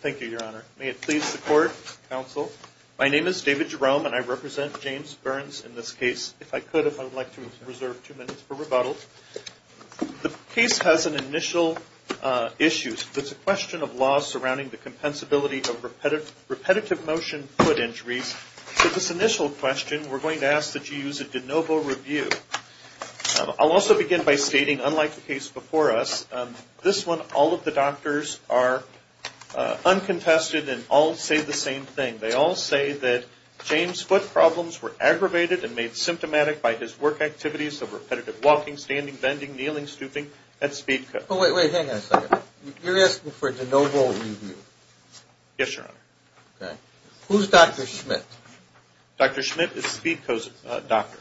Thank you, Your Honor. May it please the Court, Counsel, my name is David Jerome and I represent James Burns in this case. If I could, if I would like to reserve two minutes for rebuttal. The case has an initial issue. It's a question of law surrounding the compensability of repetitive motion foot injuries. For this initial question, we're going to ask that you use a de novo review. I'll also begin by stating, unlike the case before us, this one all of the doctors are uncontested and all say the same thing. They all say that James' foot problems were aggravated and made symptomatic by his work activities of repetitive walking, standing, bending, kneeling, stooping at Speedco. Oh, wait, wait, hang on a second. You're asking for de novo review? Yes, Your Honor. Okay. Who's Dr. Schmidt? Dr. Schmidt is Speedco's doctor.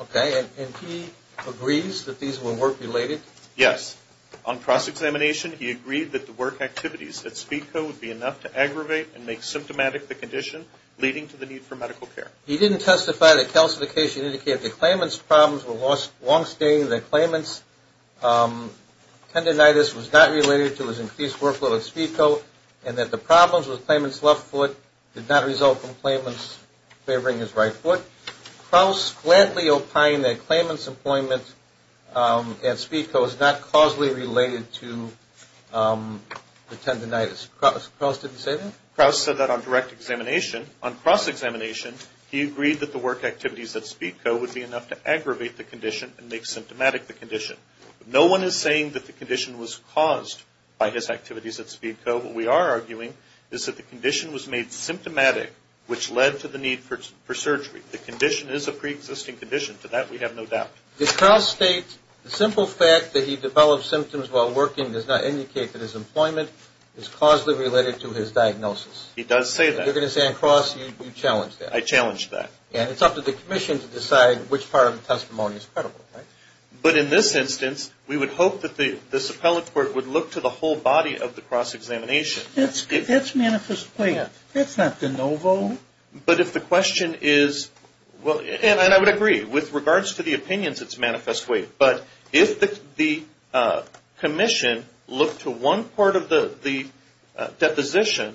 Okay, and he agrees that these were work-related? Yes. On cross-examination, he agreed that the work activities at Speedco would be enough to aggravate and make symptomatic the condition, leading to the need for medical care. He didn't testify that calcification indicated the claimant's problems were long-staying, that the claimant's tendonitis was not related to his increased workload at Speedco, and that the problems with the claimant's left foot did not result from the claimant's favoring his right foot. Kraus flatly opined that the claimant's employment at Speedco is not causally related to the tendonitis. Kraus didn't say that? Kraus said that on direct examination. On cross-examination, he agreed that the work activities at Speedco would be enough to aggravate the condition and make symptomatic the condition. No one is saying that the condition was caused by his activities at Speedco. What we are arguing is that the condition was made symptomatic, which led to the need for surgery. The condition is a preexisting condition. To that we have no doubt. Does Kraus state the simple fact that he developed symptoms while working does not indicate that his employment is causally related to his diagnosis? He does say that. You're going to say on cross, you challenged that? I challenged that. And it's up to the commission to decide which part of the testimony is credible, right? But in this instance, we would hope that this appellate court would look to the whole body of the cross-examination. That's manifest weight. That's not de novo. But if the question is, and I would agree, with regards to the opinions, it's manifest weight. But if the commission looked to one part of the deposition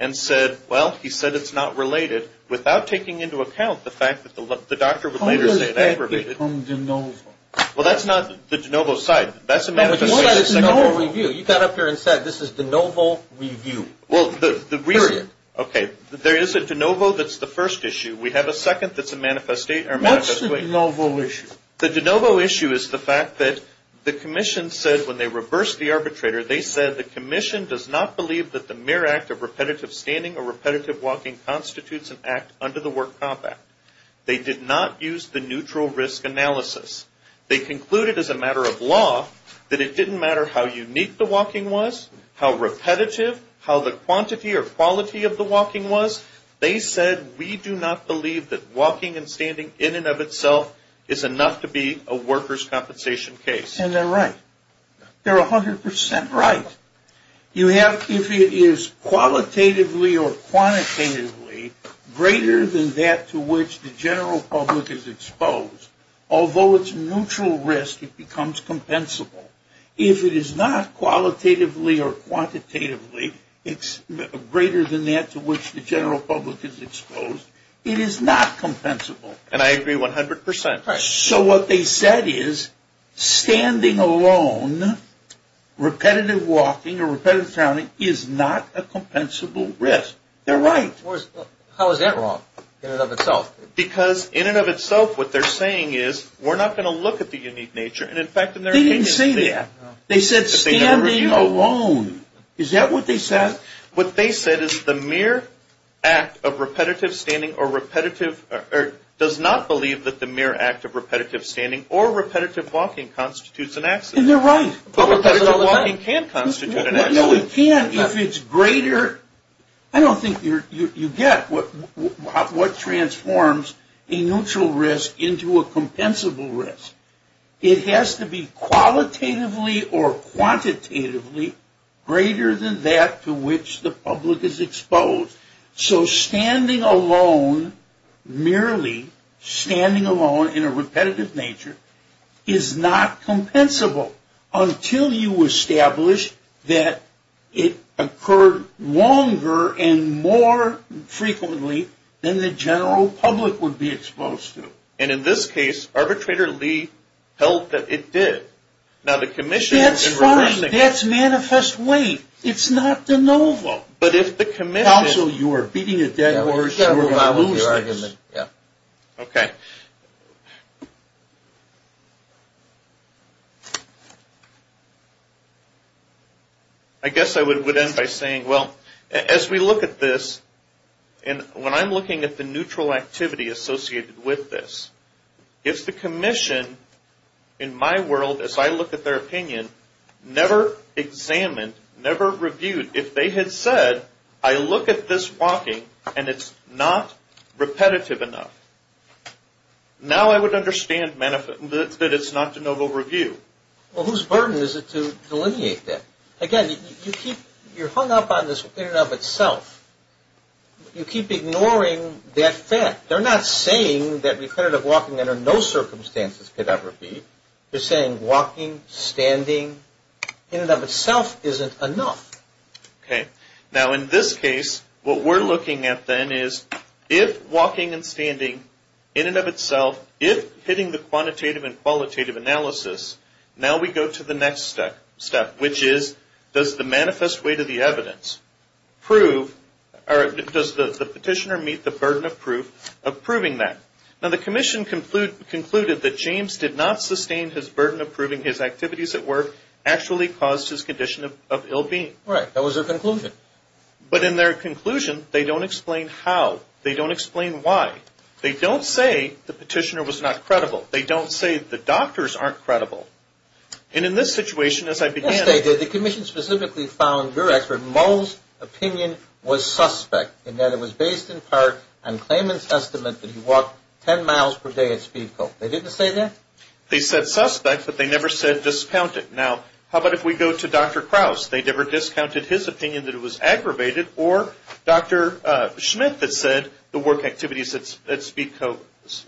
and said, well, he said it's not related, without taking into account the fact that the doctor would later say it aggravated. Well, that's not the de novo side. That's a manifest weight. You got up here and said this is de novo review. Period. Okay. There is a de novo that's the first issue. We have a second that's a manifest weight. What's the de novo issue? The de novo issue is the fact that the commission said when they reversed the arbitrator, they said the commission does not believe that the mere act of repetitive standing or repetitive walking constitutes an act under the work comp act. They did not use the neutral risk analysis. They concluded as a matter of law that it didn't matter how unique the walking was, how repetitive, how the quantity or quality of the walking was, they said we do not believe that walking and standing in and of itself is enough to be a workers' compensation case. And they're right. They're 100% right. If it is qualitatively or quantitatively greater than that to which the general public is exposed, although it's neutral risk, it becomes compensable. If it is not qualitatively or quantitatively greater than that to which the general public is exposed, it is not compensable. And I agree 100%. So what they said is standing alone, repetitive walking or repetitive standing is not a compensable risk. They're right. How is that wrong in and of itself? Because in and of itself what they're saying is we're not going to look at the unique nature. They didn't say that. They said standing alone. Is that what they said? What they said is the mere act of repetitive standing or repetitive or does not believe that the mere act of repetitive standing or repetitive walking constitutes an accident. And they're right. No, it can if it's greater. I don't think you get what transforms a neutral risk into a compensable risk. It has to be qualitatively or quantitatively greater than that to which the public is exposed. So standing alone, merely standing alone in a repetitive nature is not compensable until you establish that it occurred longer and more frequently than the general public would be exposed to. And in this case, Arbitrator Lee held that it did. Now the commission... That's fine. That's manifest weight. It's not de novo. But if the commission... Counsel, you are beating a dead horse. You are going to lose this. Okay. I guess I would end by saying, well, as we look at this and when I'm looking at the neutral activity associated with this, if the commission in my world, as I look at their opinion, never examined, never reviewed, if they had said, I look at this walking and it's not repetitive enough, now I would understand that it's not de novo review. Well, whose burden is it to delineate that? Again, you're hung up on this in and of itself. You keep ignoring that fact. They're not saying that repetitive walking under no circumstances could ever be. They're saying walking, standing, in and of itself isn't enough. Okay. Now in this case, what we're looking at then is if walking and standing in and of itself, if hitting the quantitative and qualitative analysis, now we go to the next step, which is, does the manifest weight of the evidence prove... Does the petitioner meet the burden of proving that? Now the commission concluded that James did not sustain his burden of proving his activities at work actually caused his condition of ill-being. Right. That was their conclusion. But in their conclusion, they don't explain how. They don't explain why. They don't say the petitioner was not credible. They don't say the doctors aren't credible. And in this situation, as I began... Yes, they did. The commission specifically found your expert, Mull's, opinion was suspect in that it was based in part on Clayman's estimate that he walked 10 miles per day at Speedco. They didn't say that? They said suspect, but they never said discounted. Now, how about if we go to Dr. Krause? They never discounted his opinion that it was aggravated or Dr. Schmidt that said the work activities at Speedco,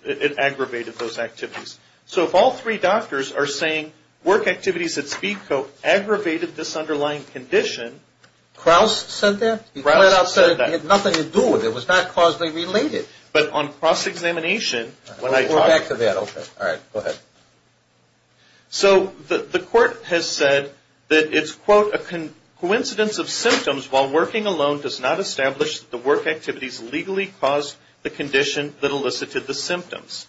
it aggravated those activities. So if all three doctors are saying work activities at Speedco aggravated this underlying condition... Krause said that? Krause said that. He had nothing to do with it. It was not causally related. But on cross-examination, when I talked... Go back to that. Okay. All right. Go ahead. So the court has said that it's, quote, a coincidence of symptoms while working alone does not establish that the work activities legally caused the condition that elicited the symptoms.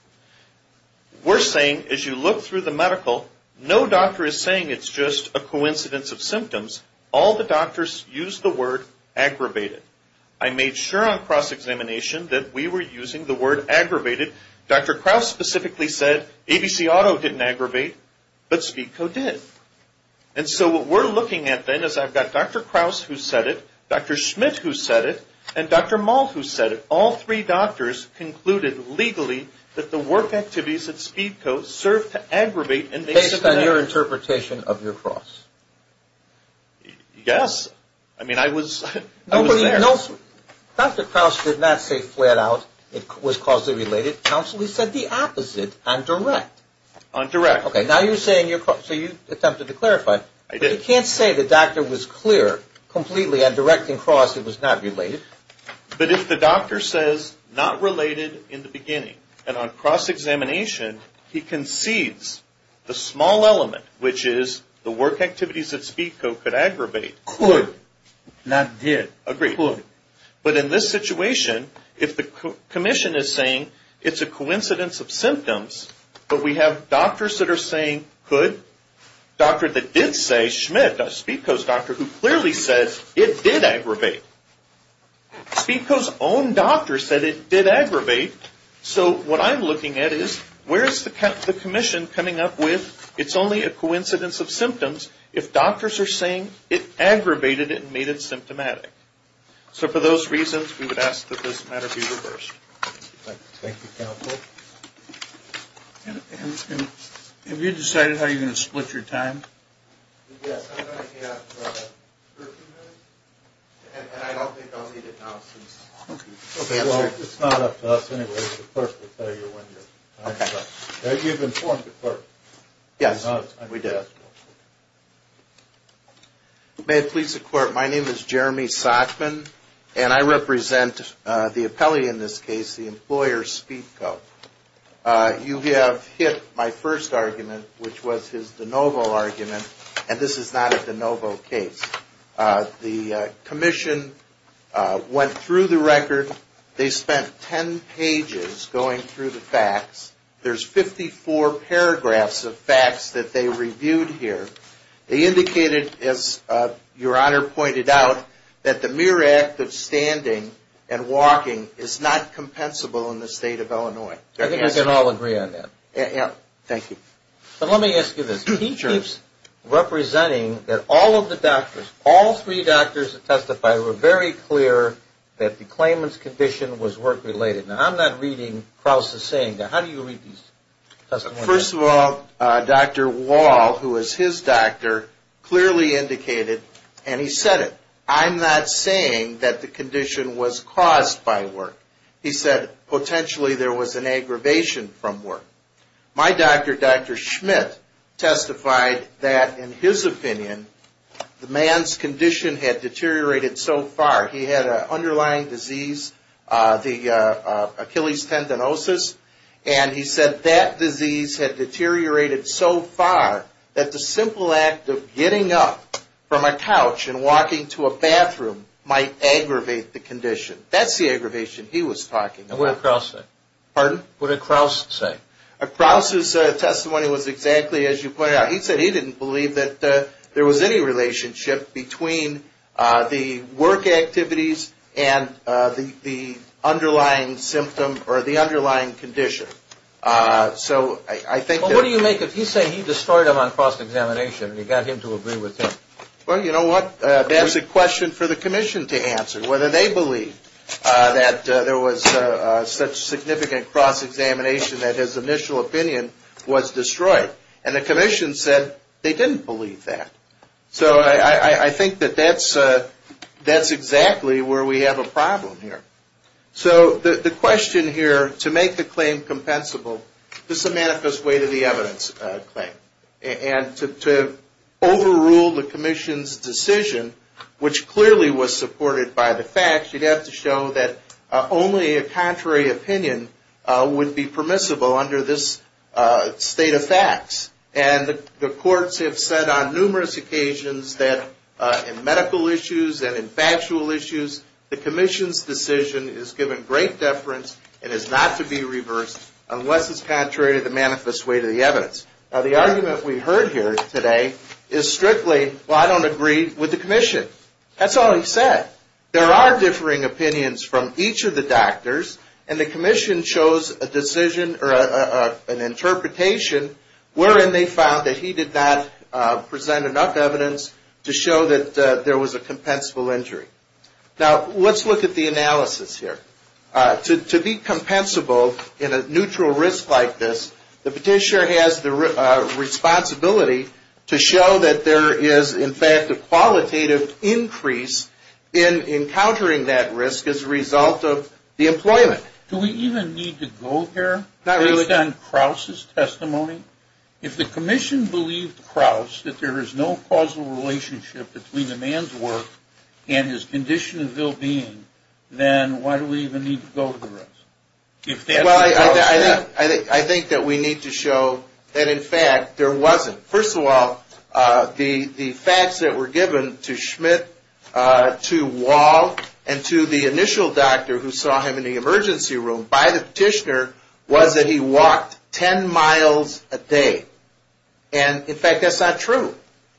We're saying, as you look through the medical, no doctor is saying it's just a coincidence of symptoms. All the doctors used the word aggravated. I made sure on cross-examination that we were using the word aggravated. Dr. Krause specifically said ABC Auto didn't aggravate, but Speedco did. And so what we're looking at then is I've got Dr. Krause who said it, Dr. Schmidt who said it, and Dr. Malt who said it. All three doctors concluded legally that the work activities at Speedco served to aggravate and make symptoms... Based on your interpretation of your cross? Yes. I mean, I was there. Nobody else... Dr. Krause did not say flat out it was causally related. Counsel, he said the opposite on direct. On direct. Okay. Now you're saying you're... So you attempted to clarify. I did. You can't say the doctor was clear completely on direct and cross it was not related. But if the doctor says not related in the beginning and on cross-examination he concedes the small element, which is the work activities at Speedco could aggravate... Could, not did. Agreed. Could. But in this situation, if the commission is saying it's a coincidence of symptoms, but we have doctors that are saying could, doctors that did say Schmidt, Speedco's doctor, who clearly said it did aggravate. Speedco's own doctor said it did aggravate. So what I'm looking at is where's the commission coming up with it's only a coincidence of symptoms if doctors are saying it aggravated it doesn't mean it's symptomatic. So for those reasons we would ask that this matter be reversed. Thank you, counsel. And have you decided how you're going to split your time? Yes, I'm going to have 13 minutes and I don't think I'll need it now since... Okay. Well, it's not up to us anyway. The clerk will tell you when your time is up. Okay. You've informed the clerk. Yes, we did. May it please the court, my name is Jeremy Sachman and I represent the appellee in this case, the employer, Speedco. You have hit my first argument, which was his DeNovo argument, and this is not a DeNovo case. The commission went through the record. They spent 10 pages going through the facts. There's 54 paragraphs of facts that they reviewed here. They indicated, as your honor pointed out, that the mere act of standing and walking is not compensable in the state of Illinois. I think we can all agree on that. Thank you. So let me ask you this. He keeps representing that all of the doctors, all three doctors that testified were very clear that the claimant's condition was work-related. Now, I'm not reading Krauss' saying. How do you read these testimonies? First of all, Dr. Wall, who is his doctor, clearly indicated, and he said it, I'm not saying that the condition was caused by work. He said potentially there was an aggravation from work. My doctor, Dr. Schmidt, testified that, in his opinion, the man's condition had deteriorated so far. He had an underlying disease, Achilles tendinosis, and he said that disease had deteriorated so far that the simple act of getting up from a couch and walking to a bathroom might aggravate the condition. That's the aggravation he was talking about. What did Krauss say? Pardon? What did Krauss say? Krauss' testimony was exactly as you pointed out. He said he didn't believe that there was any relationship between the work activities and the underlying symptom or the underlying condition. So I think that... Well, what do you make if he's saying he destroyed him on cross-examination and you got him to agree with him? Well, you know what, that's a question for the commission to answer, whether they believe that there was such significant cross-examination that his initial opinion was destroyed. And the commission said they didn't believe that. So I think that that's exactly where we have a problem here. So the question here, to make the claim compensable, this is a manifest way to the evidence claim. And to overrule the commission's decision, which clearly was supported by the facts, you'd have to show that only a contrary opinion would be permissible under this state of facts. And the courts have said on numerous occasions that in medical issues and in factual issues, the commission's decision is given great deference and is not to be reversed unless it's contrary to the manifest way to the evidence. Now, the argument we heard here today is strictly, well, I don't agree with the commission. That's all he said. There are differing opinions from each of the doctors, and the commission chose a decision or an interpretation wherein they found that he did not present enough evidence to show that there was a compensable injury. Now, let's look at the analysis here. To be compensable in a neutral risk like this, the petitioner has the responsibility to show that there is, in fact, a qualitative increase in encountering that risk as a result of the employment. Do we even need to go there? Not really. Based on Krauss' testimony? If the commission believed Krauss that there is no causal relationship between the man's work and his condition and well-being, then why do we even need to go to the rest? Well, I think that we need to show that, in fact, there wasn't. First of all, the facts that were given to Schmidt, to Wahl, and to the initial doctor who saw him in the emergency room by the petitioner was that he walked 10 miles a day. And, in fact, that's not true.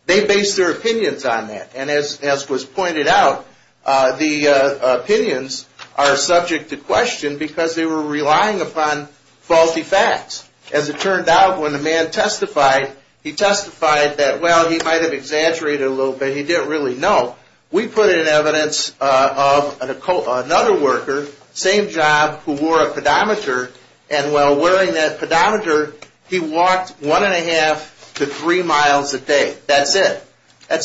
They based their opinions on that. And, as was pointed out, the opinions are subject to question because they were relying upon faulty facts. As it turned out, when the man testified, he testified that, well, he might have exaggerated a little bit. He didn't really know. We put in evidence of another worker, same job, who wore a pedometer. And, while wearing that pedometer, he walked one and a half to three miles a day. That's it. At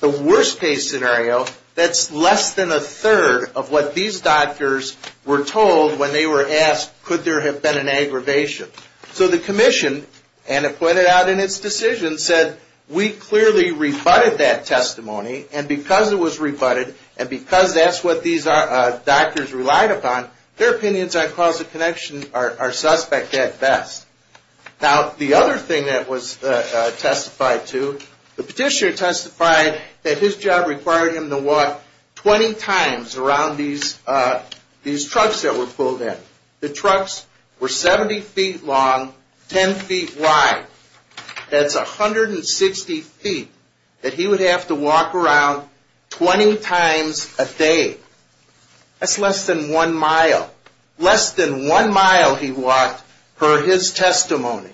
the worst case scenario, that's less than a third of what these doctors were told when they were asked, could there have been an aggravation? So, the commission, and it pointed out in its decision, said, we clearly rebutted that testimony. And, because it was rebutted, and because that's what these doctors relied upon, their opinions on Krauss's connection are suspect at best. Now, the other thing that was testified to, the petitioner testified that his job required him to walk 20 times around these trucks that were pulled in. The trucks were 70 feet long, 10 feet wide. That's 160 feet that he would have to walk around 20 times a day. That's less than one mile. Less than one mile he walked per his testimony.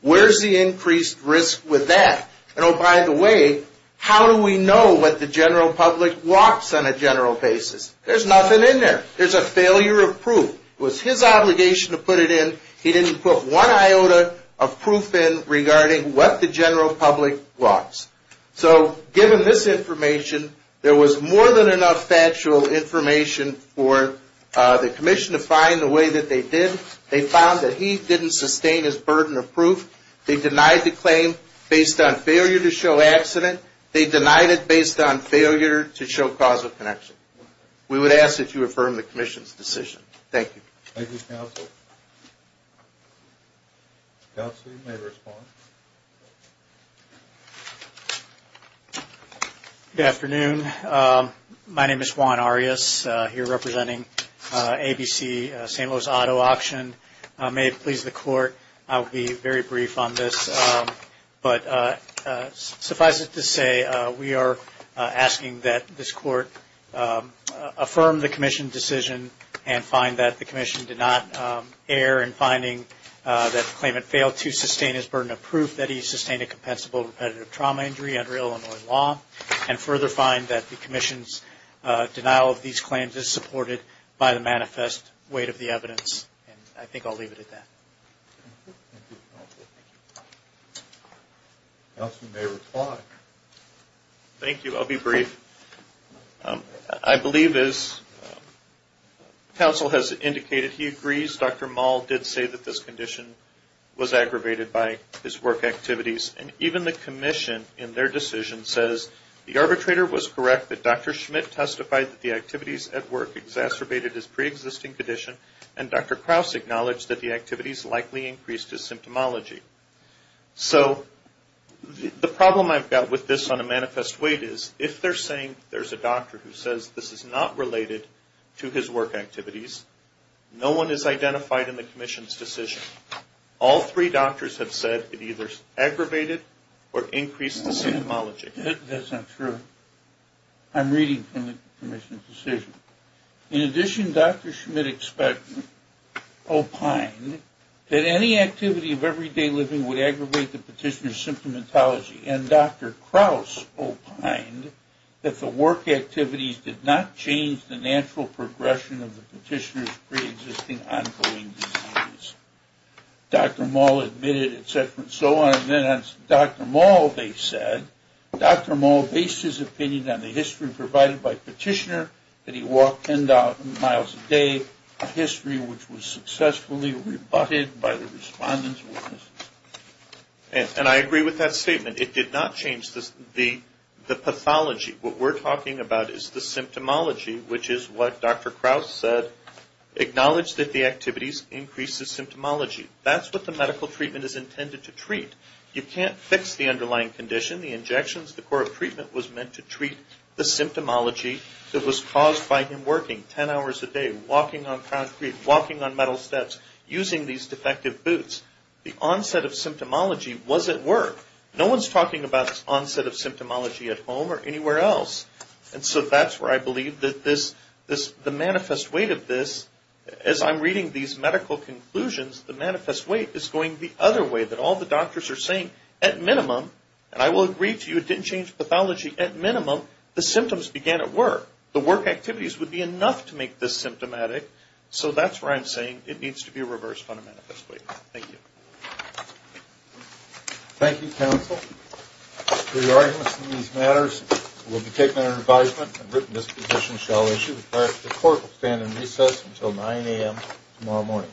Where's the increased risk with that? And, oh, by the way, how do we know what the general public walks on a general basis? There's nothing in there. There's a failure of proof. It was his obligation to put it in. He didn't put one iota of proof in regarding what the general public walks. So, given this information, there was more than enough factual information for the commission to find the way that they did. They found that he didn't sustain his burden of proof. They denied the claim based on failure to show accident. They denied it based on failure to show causal connection. We would ask that you affirm the commission's decision. Thank you. Thank you, counsel. Counsel, you may respond. Good afternoon. My name is Juan Arias, here representing ABC St. Louis Auto Auction. May it please the court, I will be very brief on this. But suffice it to say, we are asking that this court affirm the commission's decision and find that the commission did not err in finding that the claimant failed to sustain his burden of proof, that he sustained a compensable repetitive trauma injury under Illinois law, and further find that the commission's denial of these claims is supported by the manifest weight of the evidence. And I think I'll leave it at that. Thank you, counsel. Counsel, you may reply. Thank you. I'll be brief. I believe, as counsel has indicated, he agrees. Dr. Mahl did say that this condition was aggravated by his work activities. And even the commission, in their decision, says, the arbitrator was correct that Dr. Schmidt testified that the activities at work exacerbated his preexisting condition and Dr. Krause acknowledged that the activities likely increased his symptomology. So the problem I've got with this on a manifest weight is, if they're saying there's a doctor who says this is not related to his work activities, no one is identified in the commission's decision. All three doctors have said it either aggravated or increased the symptomology. That's not true. I'm reading from the commission's decision. In addition, Dr. Schmidt opined that any activity of everyday living would aggravate the petitioner's symptomatology. And Dr. Krause opined that the work activities did not change the natural progression of the petitioner's preexisting ongoing disease. Dr. Mahl admitted, et cetera, and so on. And then Dr. Mahl, they said, Dr. Mahl based his opinion on the history provided by the petitioner, that he walked 10,000 miles a day, a history which was successfully rebutted by the respondent's witness. And I agree with that statement. It did not change the pathology. What we're talking about is the symptomology, which is what Dr. Krause said, acknowledged that the activities increased his symptomology. That's what the medical treatment is intended to treat. You can't fix the underlying condition. The injections, the core of treatment was meant to treat the symptomology that was caused by him working 10 hours a day, walking on concrete, walking on metal steps, using these defective boots. The onset of symptomology was at work. No one's talking about onset of symptomology at home or anywhere else. And so that's where I believe that the manifest weight of this, as I'm reading these medical conclusions, the manifest weight is going the other way, that all the doctors are saying, at minimum, and I will agree to you it didn't change pathology, at minimum, the symptoms began at work. The work activities would be enough to make this symptomatic. So that's where I'm saying it needs to be reversed on a manifest weight. Thank you. Thank you, counsel. For your arguments in these matters, it will be taken under advisement, and written disposition shall issue. The court will stand in recess until 9 a.m. tomorrow morning.